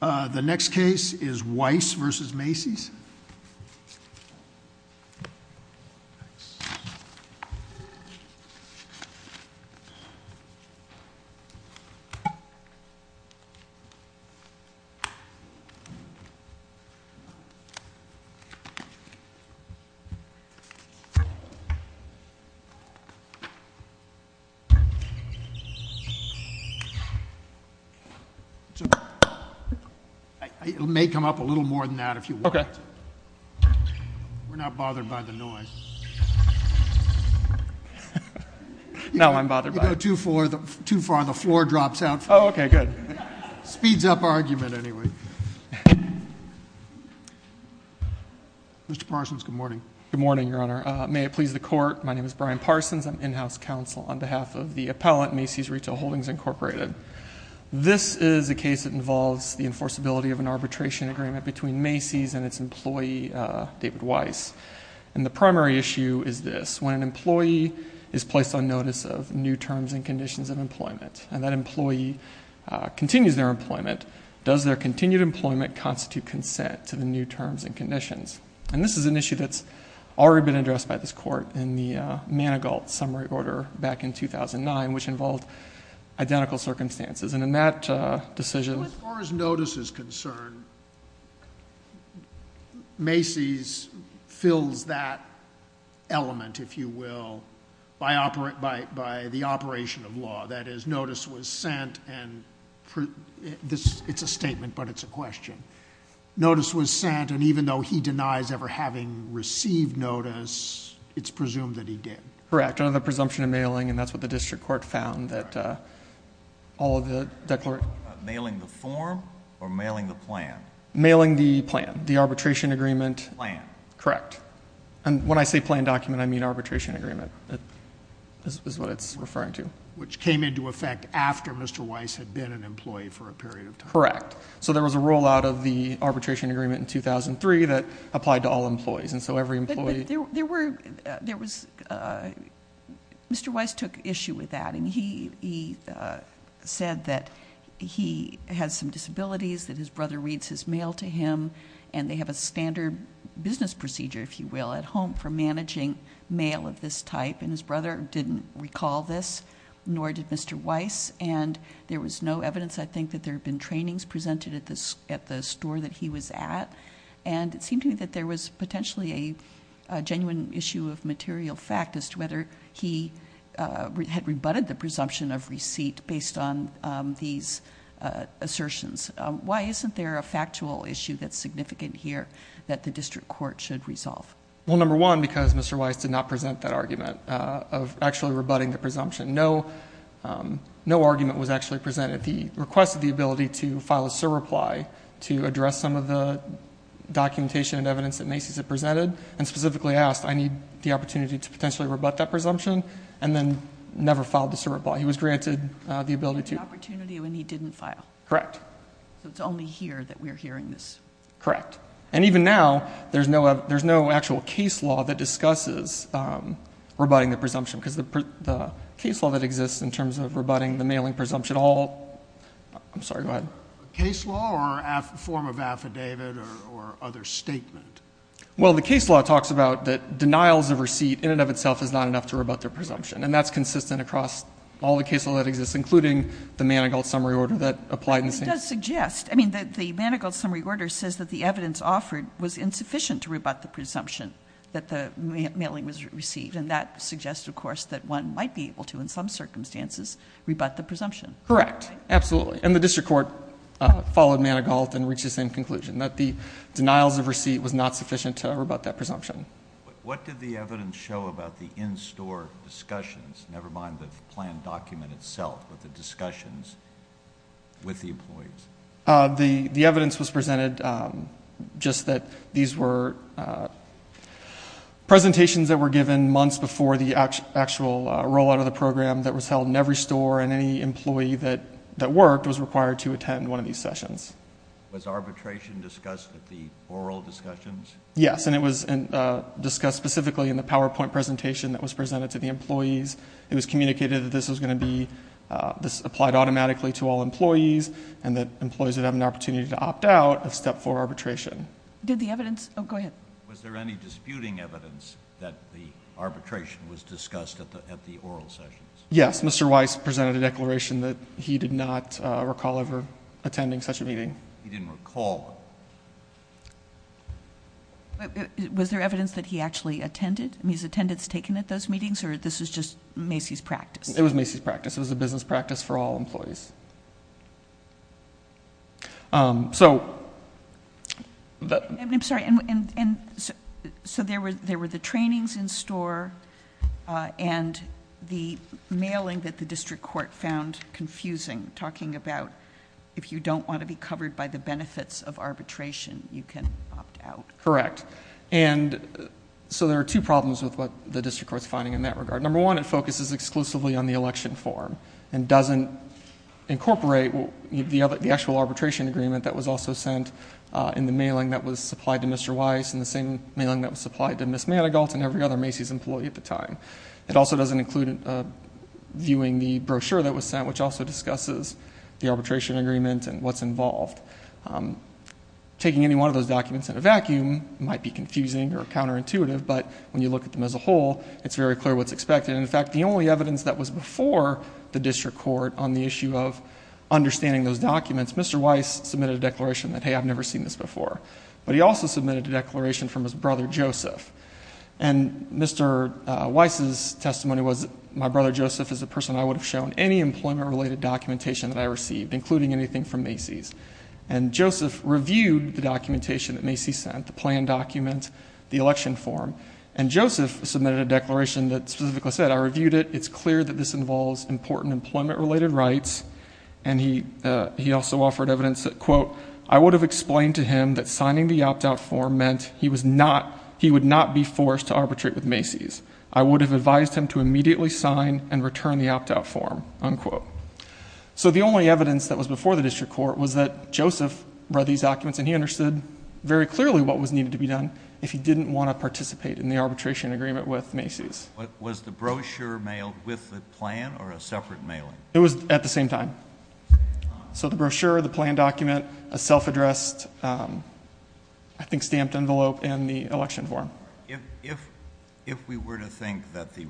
The next case is Weiss v. Macy's. It may come up a little more than that if you want. We're not bothered by the noise. Now I'm bothered by it. You go too far, the floor drops out. Oh, okay, good. Speeds up argument anyway. Mr. Parsons, good morning. Good morning, Your Honor. May it please the Court, my name is Brian Parsons. I'm in-house counsel on behalf of the appellant, Macy's Retail Holdings, Incorporated. This is a case that involves the enforceability of an arbitration agreement between Macy's and its employee, David Weiss. And the primary issue is this. When an employee is placed on notice of new terms and conditions of employment and that employee continues their employment, does their continued employment constitute consent to the new terms and conditions? And this is an issue that's already been addressed by this Court in the Manigault summary order back in 2009, which involved identical circumstances. And in that decision... As far as notice is concerned, Macy's fills that element, if you will, by the operation of law. That is, notice was sent and it's a statement but it's a question. Notice was sent and even though he denies ever having received notice, it's presumed that he did. Correct. It's a question of the presumption of mailing and that's what the district court found that all of the declarations... Mailing the form or mailing the plan? Mailing the plan. The arbitration agreement... Plan. Correct. And when I say plan document, I mean arbitration agreement is what it's referring to. Which came into effect after Mr. Weiss had been an employee for a period of time. Correct. So there was a rollout of the arbitration agreement in 2003 that applied to all employees. And so every employee... There was... Mr. Weiss took issue with that. And he said that he has some disabilities, that his brother reads his mail to him. And they have a standard business procedure, if you will, at home for managing mail of this type. And his brother didn't recall this, nor did Mr. Weiss. And there was no evidence, I think, that there had been trainings presented at the store that he was at. And it seemed to me that there was potentially a genuine issue of material fact as to whether he had rebutted the presumption of receipt based on these assertions. Why isn't there a factual issue that's significant here that the district court should resolve? Well, number one, because Mr. Weiss did not present that argument of actually rebutting the presumption. No argument was actually presented. He requested the ability to file a surreply to address some of the documentation and evidence that Macy's had presented and specifically asked, I need the opportunity to potentially rebut that presumption, and then never filed the surreply. He was granted the ability to... He had the opportunity when he didn't file. Correct. So it's only here that we're hearing this. Correct. And even now, there's no actual case law that discusses rebutting the presumption, because the case law that exists in terms of rebutting the mailing presumption, all... I'm sorry. Go ahead. Case law or form of affidavit or other statement? Well, the case law talks about that denials of receipt in and of itself is not enough to rebut the presumption. And that's consistent across all the case law that exists, including the Manigault summary order that applied in St... Well, it does suggest. I mean, the Manigault summary order says that the evidence offered was insufficient to rebut the presumption that the mailing was received. And that suggests, of course, that one might be able to, in some circumstances, rebut the presumption. Correct. Absolutely. And the district court followed Manigault and reached the same conclusion, that the denials of receipt was not sufficient to rebut that presumption. What did the evidence show about the in-store discussions, never mind the planned document itself, but the discussions with the employees? The evidence was presented just that these were presentations that were given months before the actual rollout of the program that was held in every store, and any employee that worked was required to attend one of these sessions. Was arbitration discussed at the oral discussions? Yes. And it was discussed specifically in the PowerPoint presentation that was presented to the employees. It was communicated that this was going to be applied automatically to all employees and that employees would have an opportunity to opt out of Step 4 arbitration. Did the evidence... oh, go ahead. Was there any disputing evidence that the arbitration was discussed at the oral sessions? Yes. Mr. Weiss presented a declaration that he did not recall ever attending such a meeting. He didn't recall. Was there evidence that he actually attended, his attendance taken at those meetings, or this was just Macy's practice? It was Macy's practice. It was a business practice for all employees. I'm sorry. There were the trainings in-store and the mailing that the district court found confusing, talking about if you don't want to be covered by the benefits of arbitration, you can opt out. Correct. And so there are two problems with what the district court is finding in that regard. Number one, it focuses exclusively on the election form and doesn't incorporate the actual arbitration agreement that was also sent in the mailing that was supplied to Mr. Weiss and the same mailing that was supplied to Ms. Manigault and every other Macy's employee at the time. It also doesn't include viewing the brochure that was sent, which also discusses the arbitration agreement and what's involved. Taking any one of those documents in a vacuum might be confusing or counterintuitive, but when you look at them as a whole, it's very clear what's expected. In fact, the only evidence that was before the district court on the issue of understanding those documents, Mr. Weiss submitted a declaration that, hey, I've never seen this before. But he also submitted a declaration from his brother, Joseph. And Mr. Weiss's testimony was that my brother, Joseph, is the person I would have shown any employment-related documentation that I received, including anything from Macy's. And Joseph reviewed the documentation that Macy's sent, the plan document, the election form. And Joseph submitted a declaration that specifically said, I reviewed it. It's clear that this involves important employment-related rights. And he also offered evidence that, quote, I would have explained to him that signing the opt-out form meant he would not be forced to arbitrate with Macy's. I would have advised him to immediately sign and return the opt-out form, unquote. So the only evidence that was before the district court was that Joseph read these documents, and he understood very clearly what was needed to be done if he didn't want to participate in the arbitration agreement with Macy's. Was the brochure mailed with the plan or a separate mailing? It was at the same time. So the brochure, the plan document, a self-addressed, I think, stamped envelope, and the election form. If we were to think that the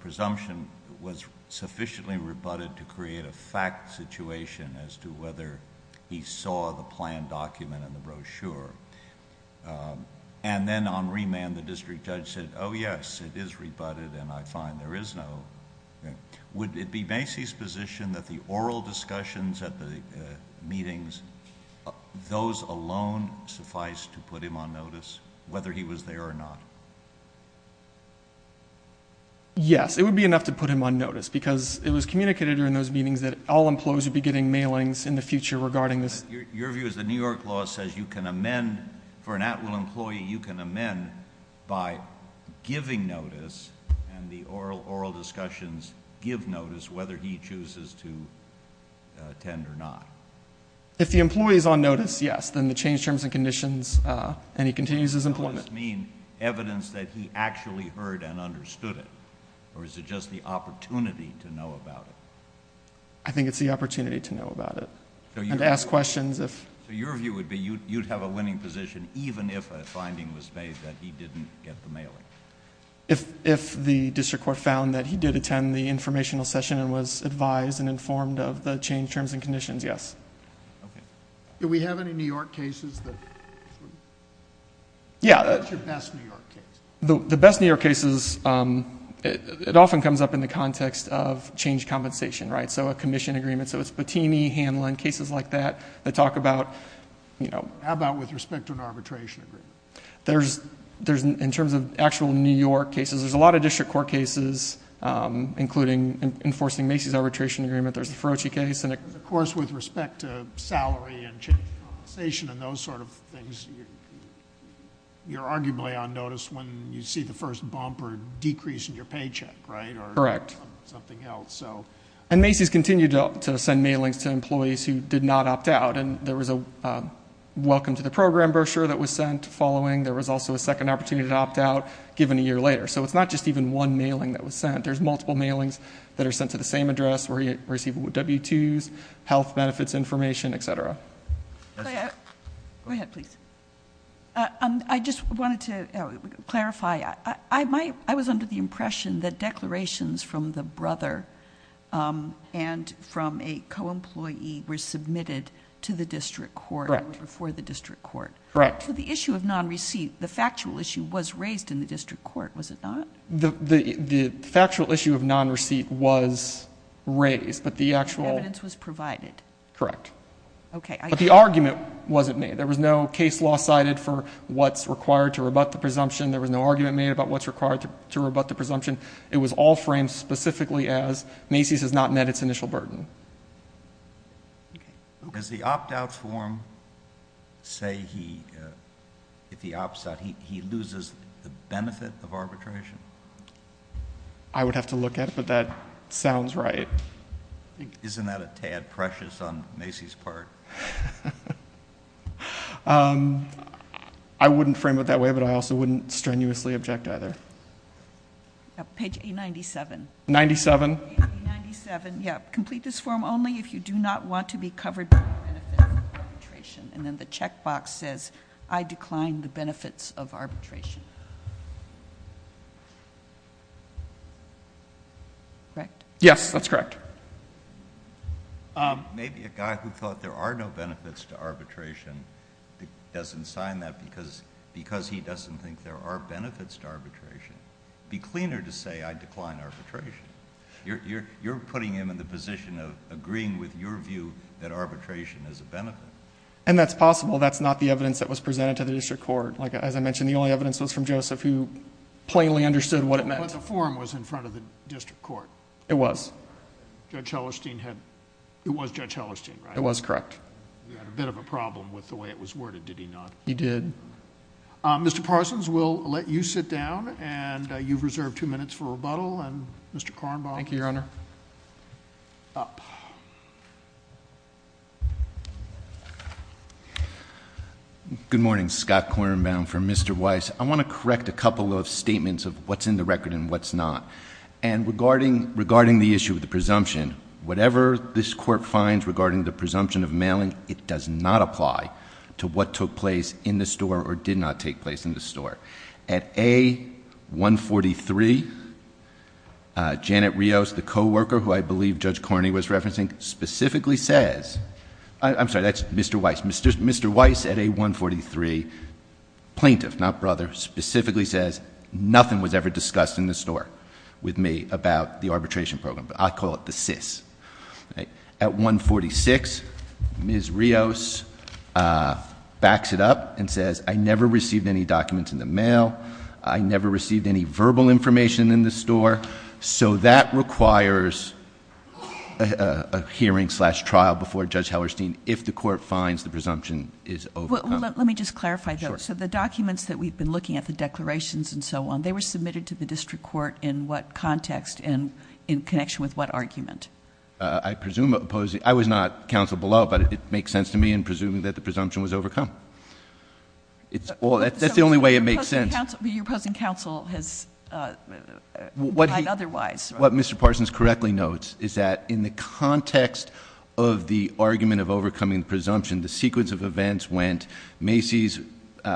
presumption was sufficiently rebutted to create a fact situation as to whether he saw the plan document and the brochure, and then on remand the district judge said, oh, yes, it is rebutted, and I find there is no, would it be Macy's position that the oral discussions at the meetings, those alone suffice to put him on notice, whether he was there or not? Yes, it would be enough to put him on notice because it was communicated during those meetings that all employers would be getting mailings in the future regarding this. Your view is the New York law says you can amend, for an at-will employee, you can amend by giving notice and the oral discussions give notice whether he chooses to attend or not? If the employee is on notice, yes, then the changed terms and conditions, and he continues his employment. Does notice mean evidence that he actually heard and understood it, or is it just the opportunity to know about it? I think it's the opportunity to know about it. And to ask questions. So your view would be you'd have a winning position even if a finding was made that he didn't get the mailing? If the district court found that he did attend the informational session and was advised and informed of the changed terms and conditions, yes. Do we have any New York cases? What's your best New York case? The best New York cases, it often comes up in the context of change compensation, right? So a commission agreement, so it's Patini, Hanlon, cases like that that talk about, you know. How about with respect to an arbitration agreement? In terms of actual New York cases, there's a lot of district court cases, including enforcing Macy's arbitration agreement. There's the Ferocci case. Of course, with respect to salary and change compensation and those sort of things, you're arguably on notice when you see the first bump or decrease in your paycheck, right? Correct. Or something else. And Macy's continued to send mailings to employees who did not opt out, and there was a welcome to the program brochure that was sent following. There was also a second opportunity to opt out given a year later. So it's not just even one mailing that was sent. There's multiple mailings that are sent to the same address where you receive W-2s, health benefits information, et cetera. Go ahead, please. I just wanted to clarify. I was under the impression that declarations from the brother and from a co-employee were submitted to the district court or before the district court. Correct. So the issue of non-receipt, the factual issue, was raised in the district court, was it not? The factual issue of non-receipt was raised, but the actual ‑‑ And the evidence was provided. Correct. Okay. But the argument wasn't made. There was no case law cited for what's required to rebut the presumption. There was no argument made about what's required to rebut the presumption. It was all framed specifically as Macy's has not met its initial burden. Does the opt‑out form say he loses the benefit of arbitration? I would have to look at it, but that sounds right. Isn't that a tad precious on Macy's part? I wouldn't frame it that way, but I also wouldn't strenuously object either. Page A97. 97. 97, yeah. Complete this form only if you do not want to be covered by the benefit of arbitration. And then the check box says, I decline the benefits of arbitration. Correct? Yes, that's correct. Maybe a guy who thought there are no benefits to arbitration doesn't sign that because he doesn't think there are benefits to arbitration. It would be cleaner to say, I decline arbitration. You're putting him in the position of agreeing with your view that arbitration is a benefit. And that's possible. That's not the evidence that was presented to the district court. As I mentioned, the only evidence was from Joseph who plainly understood what it meant. But the form was in front of the district court. It was. Judge Hellerstein had... it was Judge Hellerstein, right? It was, correct. He had a bit of a problem with the way it was worded, did he not? He did. Mr. Parsons, we'll let you sit down. And you've reserved two minutes for rebuttal. And Mr. Kornbaum. Thank you, Your Honor. Up. Good morning. Scott Kornbaum for Mr. Weiss. I want to correct a couple of statements of what's in the record and what's not. And regarding the issue of the presumption, whatever this court finds regarding the presumption of mailing, it does not apply to what took place in the store or did not take place in the store. At A143, Janet Rios, the co-worker who I believe Judge Korney was referencing, specifically says... I'm sorry, that's Mr. Weiss. Mr. Weiss at A143, plaintiff, not brother, specifically says nothing was ever discussed in the store. With me, about the arbitration program. I call it the SIS. At A146, Ms. Rios backs it up and says, I never received any documents in the mail. I never received any verbal information in the store. So, that requires a hearing slash trial before Judge Hellerstein, if the court finds the presumption is overcome. Let me just clarify that. Sure. So, the documents that we've been looking at, the declarations and so on, they were submitted to the district court in what context and in connection with what argument? I presume... I was not counsel below, but it makes sense to me in presuming that the presumption was overcome. That's the only way it makes sense. Your opposing counsel has... What Mr. Parsons correctly notes is that in the context of the argument of overcoming the presumption, the sequence of events went, Macy's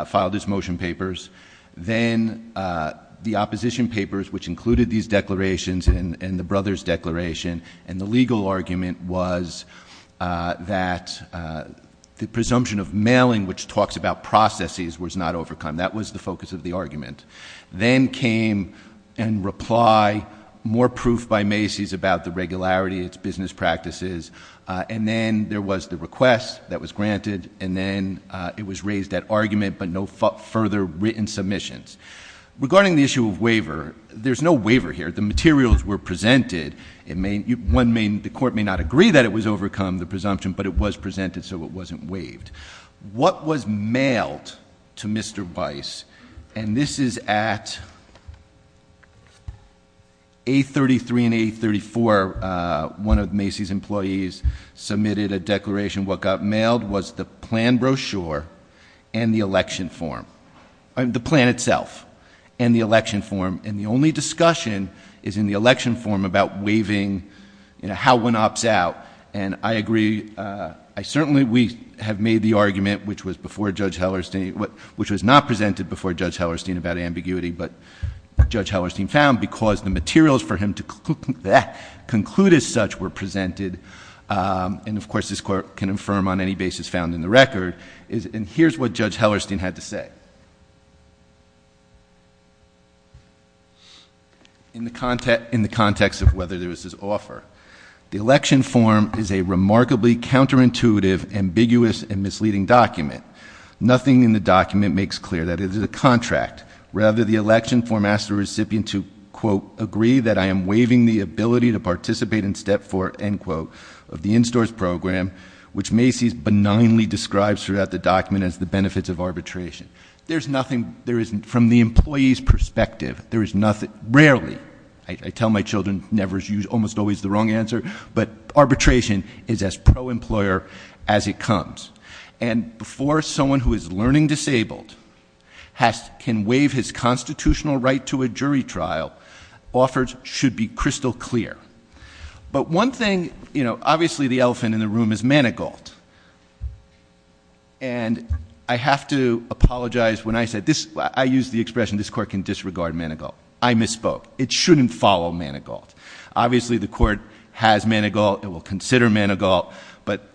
filed its motion papers, then the opposition papers, which included these declarations and the brother's declaration, and the legal argument was that the presumption of mailing, which talks about processes, was not overcome. That was the focus of the argument. Then came in reply, more proof by Macy's about the regularity of its business practices, and then there was the request that was granted, and then it was raised at argument, but no further written submissions. Regarding the issue of waiver, there's no waiver here. The materials were presented. The court may not agree that it was overcome, the presumption, but it was presented, so it wasn't waived. What was mailed to Mr. Weiss, and this is at A33 and A34. One of Macy's employees submitted a declaration. What got mailed was the plan brochure and the election form, the plan itself and the election form, and the only discussion is in the election form about waiving, how one opts out, and I agree. I certainly have made the argument, which was before Judge Hellerstein, which was not presented before Judge Hellerstein about ambiguity, but Judge Hellerstein found because the materials for him to conclude as such were presented, and, of course, this court can affirm on any basis found in the record, and here's what Judge Hellerstein had to say. In the context of whether there was this offer, the election form is a remarkably counterintuitive, ambiguous, and misleading document. Nothing in the document makes clear that it is a contract. Rather, the election form asks the recipient to, quote, agree that I am waiving the ability to participate in step four, end quote, of the in-stores program, which Macy's benignly describes throughout the document as the benefits of arbitration. There's nothing, there isn't, from the employee's perspective, there is nothing, rarely, I tell my children, never, almost always the wrong answer, but arbitration is as pro-employer as it comes, and before someone who is learning disabled can waive his constitutional right to a jury trial, offers should be crystal clear, but one thing, you know, obviously the elephant in the room is Manigault, and I have to apologize when I said this, I use the expression this court can disregard Manigault. I misspoke. It shouldn't follow Manigault. Obviously the court has Manigault, it will consider Manigault, but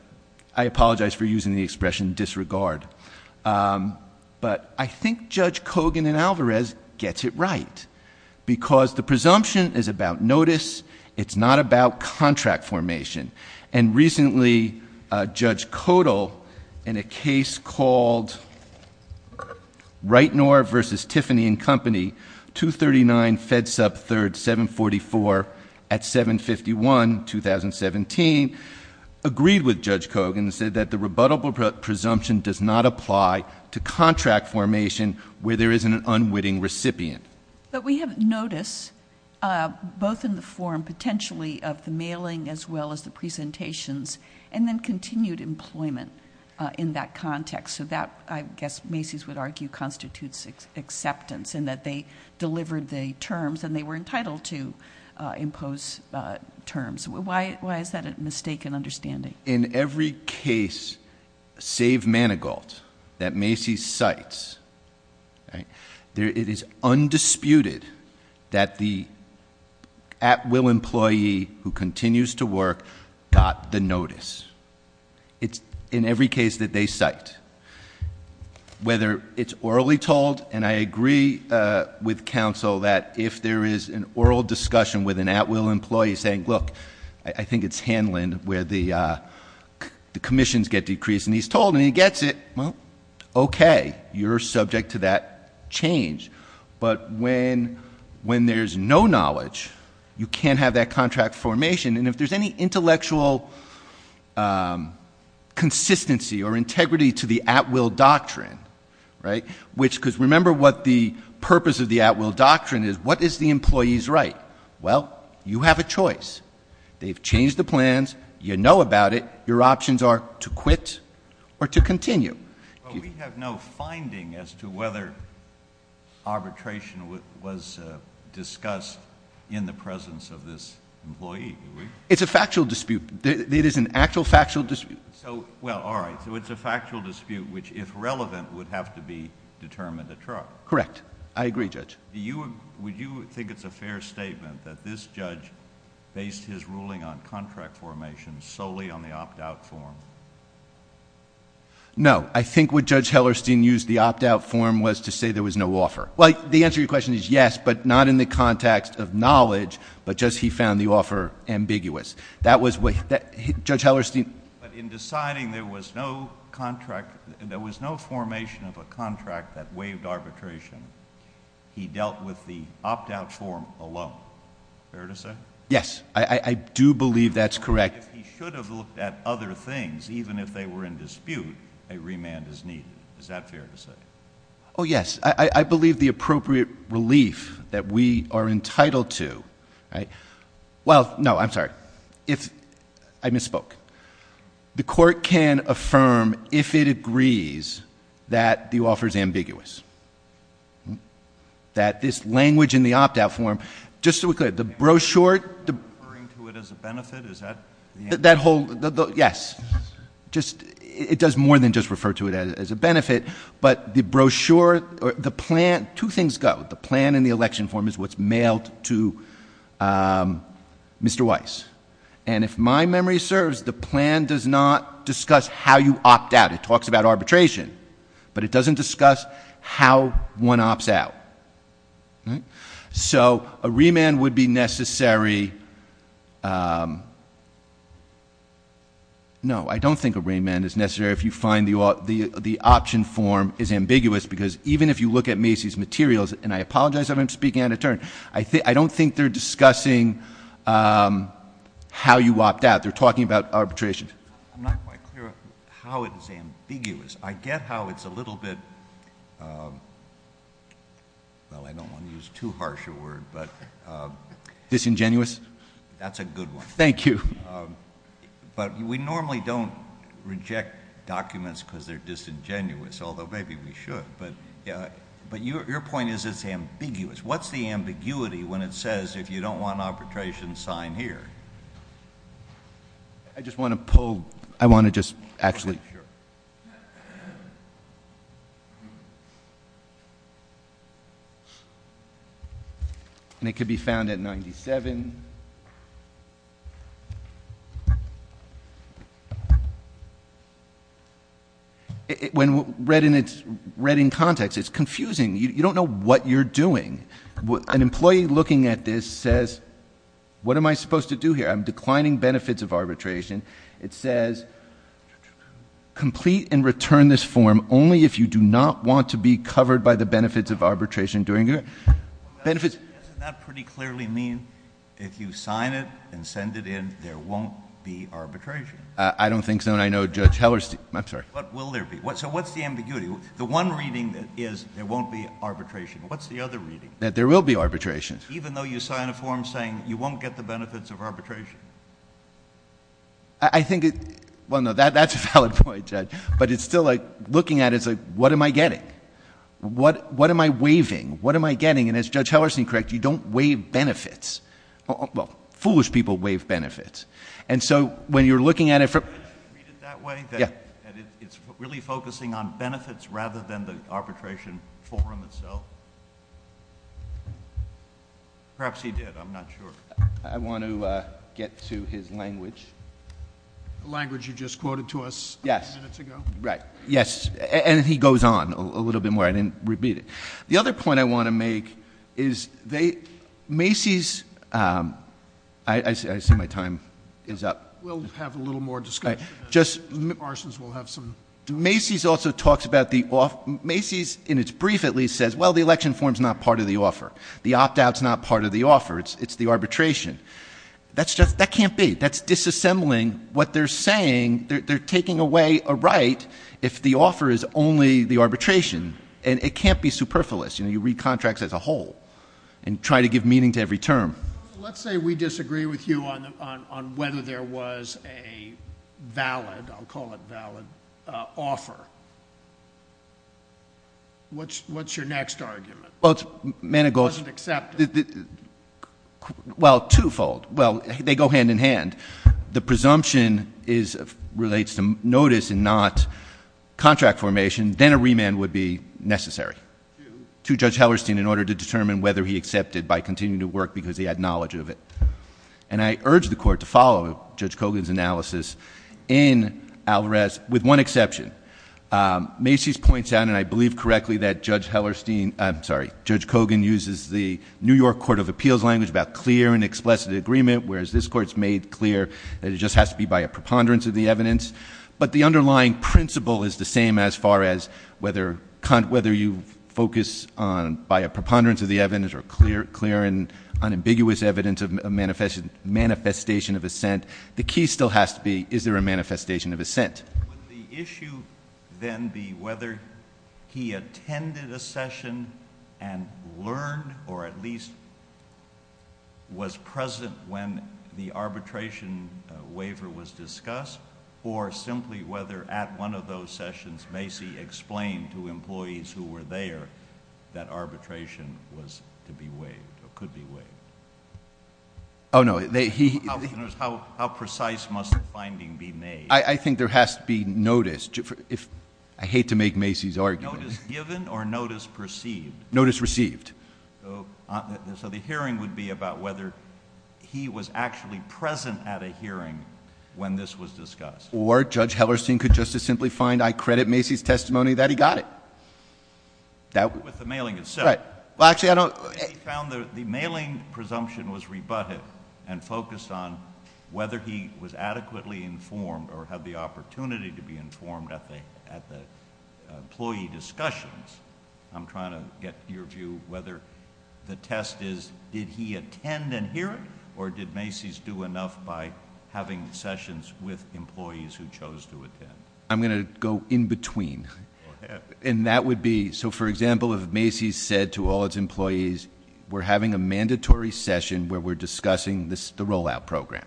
I apologize for using the expression disregard, but I think Judge Kogan and Alvarez gets it right, because the presumption is about notice, it's not about contract formation, and recently Judge Kodal, in a case called Reitnor versus Tiffany and Company, 239 Fed Sub 3rd, 744 at 751, 2017, agreed with Judge Kogan and said that the rebuttable presumption does not apply to contract formation where there isn't an unwitting recipient. But we have notice, both in the form potentially of the mailing as well as the presentations, and then continued employment in that context, so that I guess Macy's would argue constitutes acceptance, in that they delivered the terms and they were entitled to impose terms. Why is that a mistaken understanding? In every case, save Manigault, that Macy's cites, it is undisputed that the at-will employee who continues to work got the notice. It's in every case that they cite. Whether it's orally told, and I agree with counsel that if there is an oral discussion with an at-will employee saying, look, I think it's Hanlon where the commissions get decreased and he's told, and he gets it, well, okay, you're subject to that change. But when there's no knowledge, you can't have that contract formation, and if there's any intellectual consistency or integrity to the at-will doctrine, right, which because remember what the purpose of the at-will doctrine is, what is the employee's right? Well, you have a choice. They've changed the plans. You know about it. Your options are to quit or to continue. But we have no finding as to whether arbitration was discussed in the presence of this employee. It's a factual dispute. It is an actual factual dispute. Well, all right, so it's a factual dispute which, if relevant, would have to be determined at trial. Correct. I agree, Judge. Would you think it's a fair statement that this judge based his ruling on contract formation solely on the opt-out form? No. I think what Judge Hellerstein used the opt-out form was to say there was no offer. Well, the answer to your question is yes, but not in the context of knowledge, but just he found the offer ambiguous. But in deciding there was no formation of a contract that waived arbitration, he dealt with the opt-out form alone. Fair to say? Yes. I do believe that's correct. If he should have looked at other things, even if they were in dispute, a remand is needed. Is that fair to say? Oh, yes. I believe the appropriate relief that we are entitled to. Well, no, I'm sorry. I misspoke. The court can affirm, if it agrees, that the offer is ambiguous. That this language in the opt-out form, just so we're clear, the brochure... Are you referring to it as a benefit? Is that the answer? Yes. It does more than just refer to it as a benefit, but the brochure, the plan, two things go. The plan in the election form is what's mailed to Mr. Weiss. And if my memory serves, the plan does not discuss how you opt out. It talks about arbitration, but it doesn't discuss how one opts out. So a remand would be necessary... No, I don't think a remand is necessary if you find the option form is ambiguous, because even if you look at Macy's materials, and I apologize if I'm speaking out of turn, I don't think they're discussing how you opt out. They're talking about arbitration. I'm not quite clear how it is ambiguous. I get how it's a little bit, well, I don't want to use too harsh a word, but... Disingenuous? That's a good one. Thank you. But we normally don't reject documents because they're disingenuous, although maybe we should. But your point is it's ambiguous. What's the ambiguity when it says if you don't want arbitration, sign here? I just want to pull, I want to just actually... Sure. And it could be found at 97. When read in context, it's confusing. You don't know what you're doing. An employee looking at this says, what am I supposed to do here? I'm declining benefits of arbitration. It says complete and return this form only if you do not want to be covered by the benefits of arbitration. Doesn't that pretty clearly mean if you sign it and send it in, there won't be arbitration? I don't think so, and I know Judge Heller... I'm sorry. What will there be? So what's the ambiguity? The one reading is there won't be arbitration. What's the other reading? That there will be arbitration. Even though you sign a form saying you won't get the benefits of arbitration? I think it... Well, no, that's a valid point, Judge. But it's still like, looking at it, it's like, what am I getting? What am I waiving? What am I getting? And as Judge Hellerson corrects, you don't waive benefits. Well, foolish people waive benefits. And so when you're looking at it from... Can you read it that way? Yeah. That it's really focusing on benefits rather than the arbitration form itself? Perhaps he did. I'm not sure. I want to get to his language. The language you just quoted to us minutes ago? Yes. Right. Yes. And he goes on a little bit more. I didn't repeat it. The other point I want to make is they... Macy's... I see my time is up. We'll have a little more discussion. Just... Parsons will have some... Macy's also talks about the... Macy's, in its brief at least, says, well, the election form's not part of the offer. The opt-out's not part of the offer. It's the arbitration. That's just... That can't be. That's disassembling what they're saying. They're taking away a right if the offer is only the arbitration. And it can't be superfluous. You read contracts as a whole and try to give meaning to every term. Let's say we disagree with you on whether there was a valid... I'll call it valid... Offer. What's your next argument? Well, it's... Well, twofold. Well, they go hand in hand. The presumption relates to notice and not contract formation. Then a remand would be necessary to Judge Hellerstein in order to determine whether he accepted by continuing to work because he had knowledge of it. And I urge the Court to follow Judge Kogan's analysis in Alvarez with one exception. Macy's points out, and I believe correctly, that Judge Hellerstein... I'm sorry. Judge Kogan uses the New York Court of Appeals language about clear and explicit agreement, whereas this Court's made clear that it just has to be by a preponderance of the evidence. But the underlying principle is the same as far as whether you focus on by a preponderance of the evidence or clear and unambiguous evidence of manifestation of assent. The key still has to be is there a manifestation of assent. Would the issue then be whether he attended a session and learned or at least was present when the arbitration waiver was discussed or simply whether at one of those sessions Macy explained to employees who were there that arbitration was to be waived or could be waived? Oh, no. How precise must the finding be made? I think there has to be notice. I hate to make Macy's argument. Notice given or notice perceived? Notice received. So the hearing would be about whether he was actually present at a hearing when this was discussed. Or Judge Hellerstein could just as simply find I credit Macy's testimony that he got it. With the mailing itself. Right. Well, actually, I don't... The mailing presumption was rebutted and focused on whether he was adequately informed or had the opportunity to be informed at the employee discussions. I'm trying to get your view whether the test is did he attend a hearing or did Macy's do enough by having sessions with employees who chose to attend? I'm going to go in between. And that would be... So, for example, if Macy's said to all its employees, we're having a mandatory session where we're discussing the rollout program.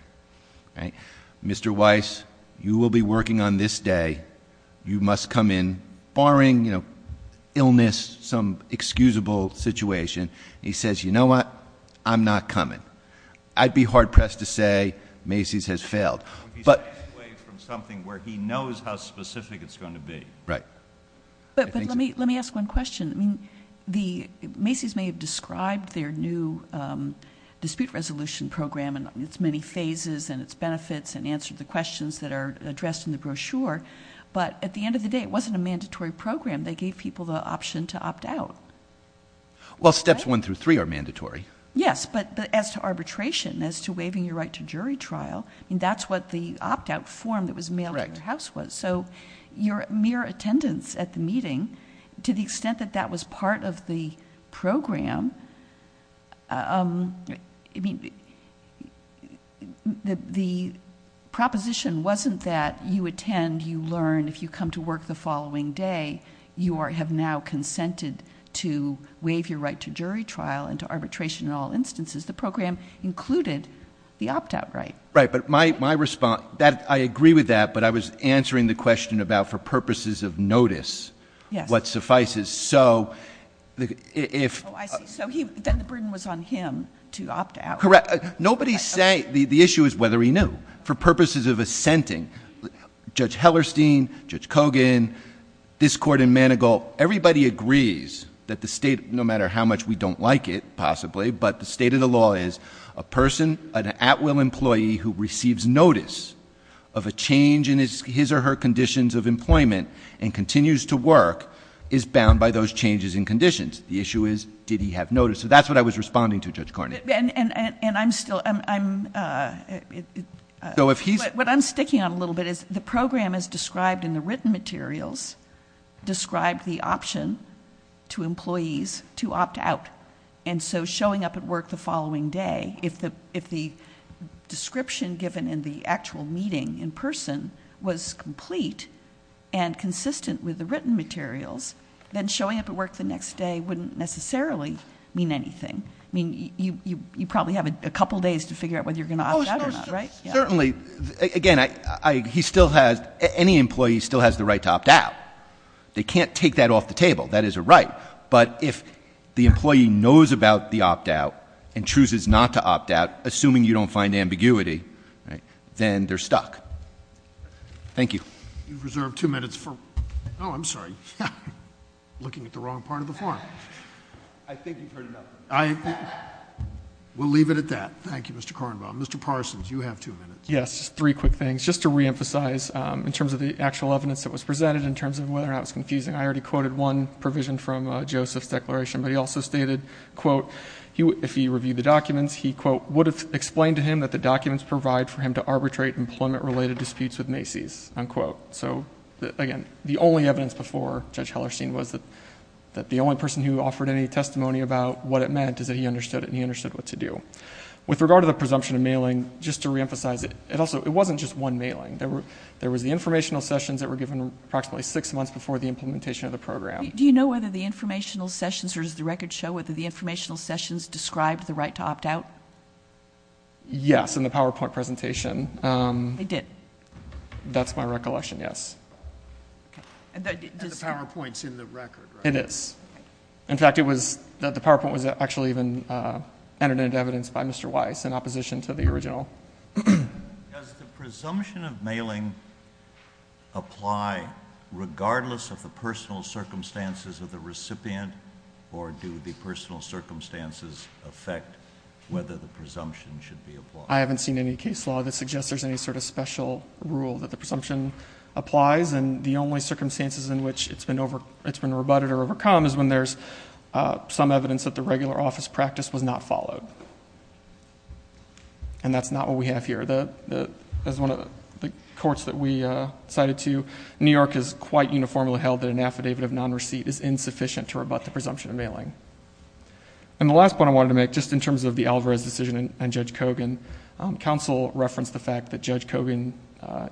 Mr. Weiss, you will be working on this day. You must come in barring illness, some excusable situation. He says, you know what? I'm not coming. I'd be hard pressed to say Macy's has failed. He's staying away from something where he knows how specific it's going to be. Right. But let me ask one question. Macy's may have described their new dispute resolution program and its many phases and its benefits and answered the questions that are addressed in the brochure, but at the end of the day, it wasn't a mandatory program. They gave people the option to opt out. Well, steps one through three are mandatory. Yes, but as to arbitration, as to waiving your right to jury trial, that's what the opt-out form that was mailed at your house was. So your mere attendance at the meeting, to the extent that that was part of the program, the proposition wasn't that you attend, you learn, if you come to work the following day, you have now consented to waive your right to jury trial and to arbitration in all instances. The program included the opt-out right. Right, but my response... I agree with that, but I was answering the question about for purposes of notice, what suffices. Oh, I see. So then the burden was on him to opt out. Correct. The issue is whether he knew. For purposes of assenting, Judge Hellerstein, Judge Kogan, this court in Manigault, everybody agrees that the state, no matter how much we don't like it, possibly, but the state of the law is a person, an at-will employee, who receives notice of a change in his or her conditions of employment and continues to work is bound by those changes in conditions. The issue is did he have notice. So that's what I was responding to, Judge Cornyn. And I'm still... So if he's... What I'm sticking on a little bit is the program is described in the written materials, described the option to employees to opt out, and so showing up at work the following day, if the description given in the actual meeting in person was complete and consistent with the written materials, then showing up at work the next day wouldn't necessarily mean anything. I mean, you probably have a couple days to figure out whether you're going to opt out or not, right? Certainly. Again, he still has... any employee still has the right to opt out. They can't take that off the table. That is a right. But if the employee knows about the opt out and chooses not to opt out, assuming you don't find ambiguity, then they're stuck. Thank you. You've reserved two minutes for... Oh, I'm sorry. Looking at the wrong part of the forum. I think you've heard enough. We'll leave it at that. Thank you, Mr. Kornbaum. Mr. Parsons, you have two minutes. Yes. Just three quick things. Just to reemphasize, in terms of the actual evidence that was presented, in terms of whether or not it was confusing, I already quoted one provision from Joseph's declaration, but he also stated, quote, if he reviewed the documents, he, quote, would have explained to him that the documents provide for him to arbitrate employment-related disputes with Macy's, unquote. So, again, the only evidence before Judge Hellerstein was that the only person who offered any testimony about what it meant is that he understood it and he understood what to do. With regard to the presumption of mailing, just to reemphasize, it wasn't just one mailing. There was the informational sessions that were given approximately six months before the implementation of the program. Do you know whether the informational sessions, or does the record show, whether the informational sessions described the right to opt out? Yes, in the PowerPoint presentation. They did? That's my recollection, yes. The PowerPoint's in the record, right? It is. In fact, the PowerPoint was actually even entered into evidence by Mr. Weiss in opposition to the original. Does the presumption of mailing apply regardless of the personal circumstances of the recipient, or do the personal circumstances affect whether the presumption should be applied? I haven't seen any case law that suggests there's any sort of special rule that the presumption applies, and the only circumstances in which it's been rebutted or overcome is when there's some evidence that the regular office practice was not followed. And that's not what we have here. As one of the courts that we cited to, New York has quite uniformly held that an affidavit of non-receipt is insufficient to rebut the presumption of mailing. And the last point I wanted to make, just in terms of the Alvarez decision and Judge Kogan, counsel referenced the fact that Judge Kogan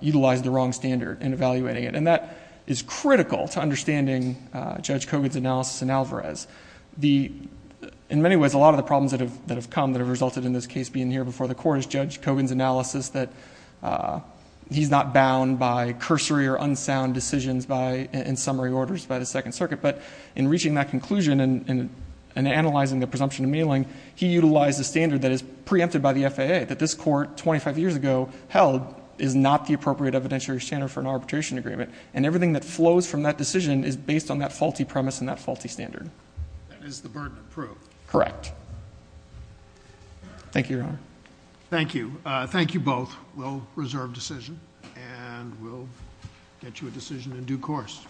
utilized the wrong standard in evaluating it, and that is critical to understanding Judge Kogan's analysis in Alvarez. In many ways, a lot of the problems that have come, that have resulted in this case being here before the Court, is Judge Kogan's analysis that he's not bound by cursory or unsound decisions in summary orders by the Second Circuit, but in reaching that conclusion and analyzing the presumption of mailing, he utilized a standard that is preempted by the FAA, that this Court 25 years ago held is not the appropriate evidentiary standard for an arbitration agreement, and everything that flows from that decision is based on that faulty premise and that faulty standard. That is the burden to prove. Thank you, Your Honor. Thank you. Thank you both. We'll reserve decision, and we'll get you a decision in due course.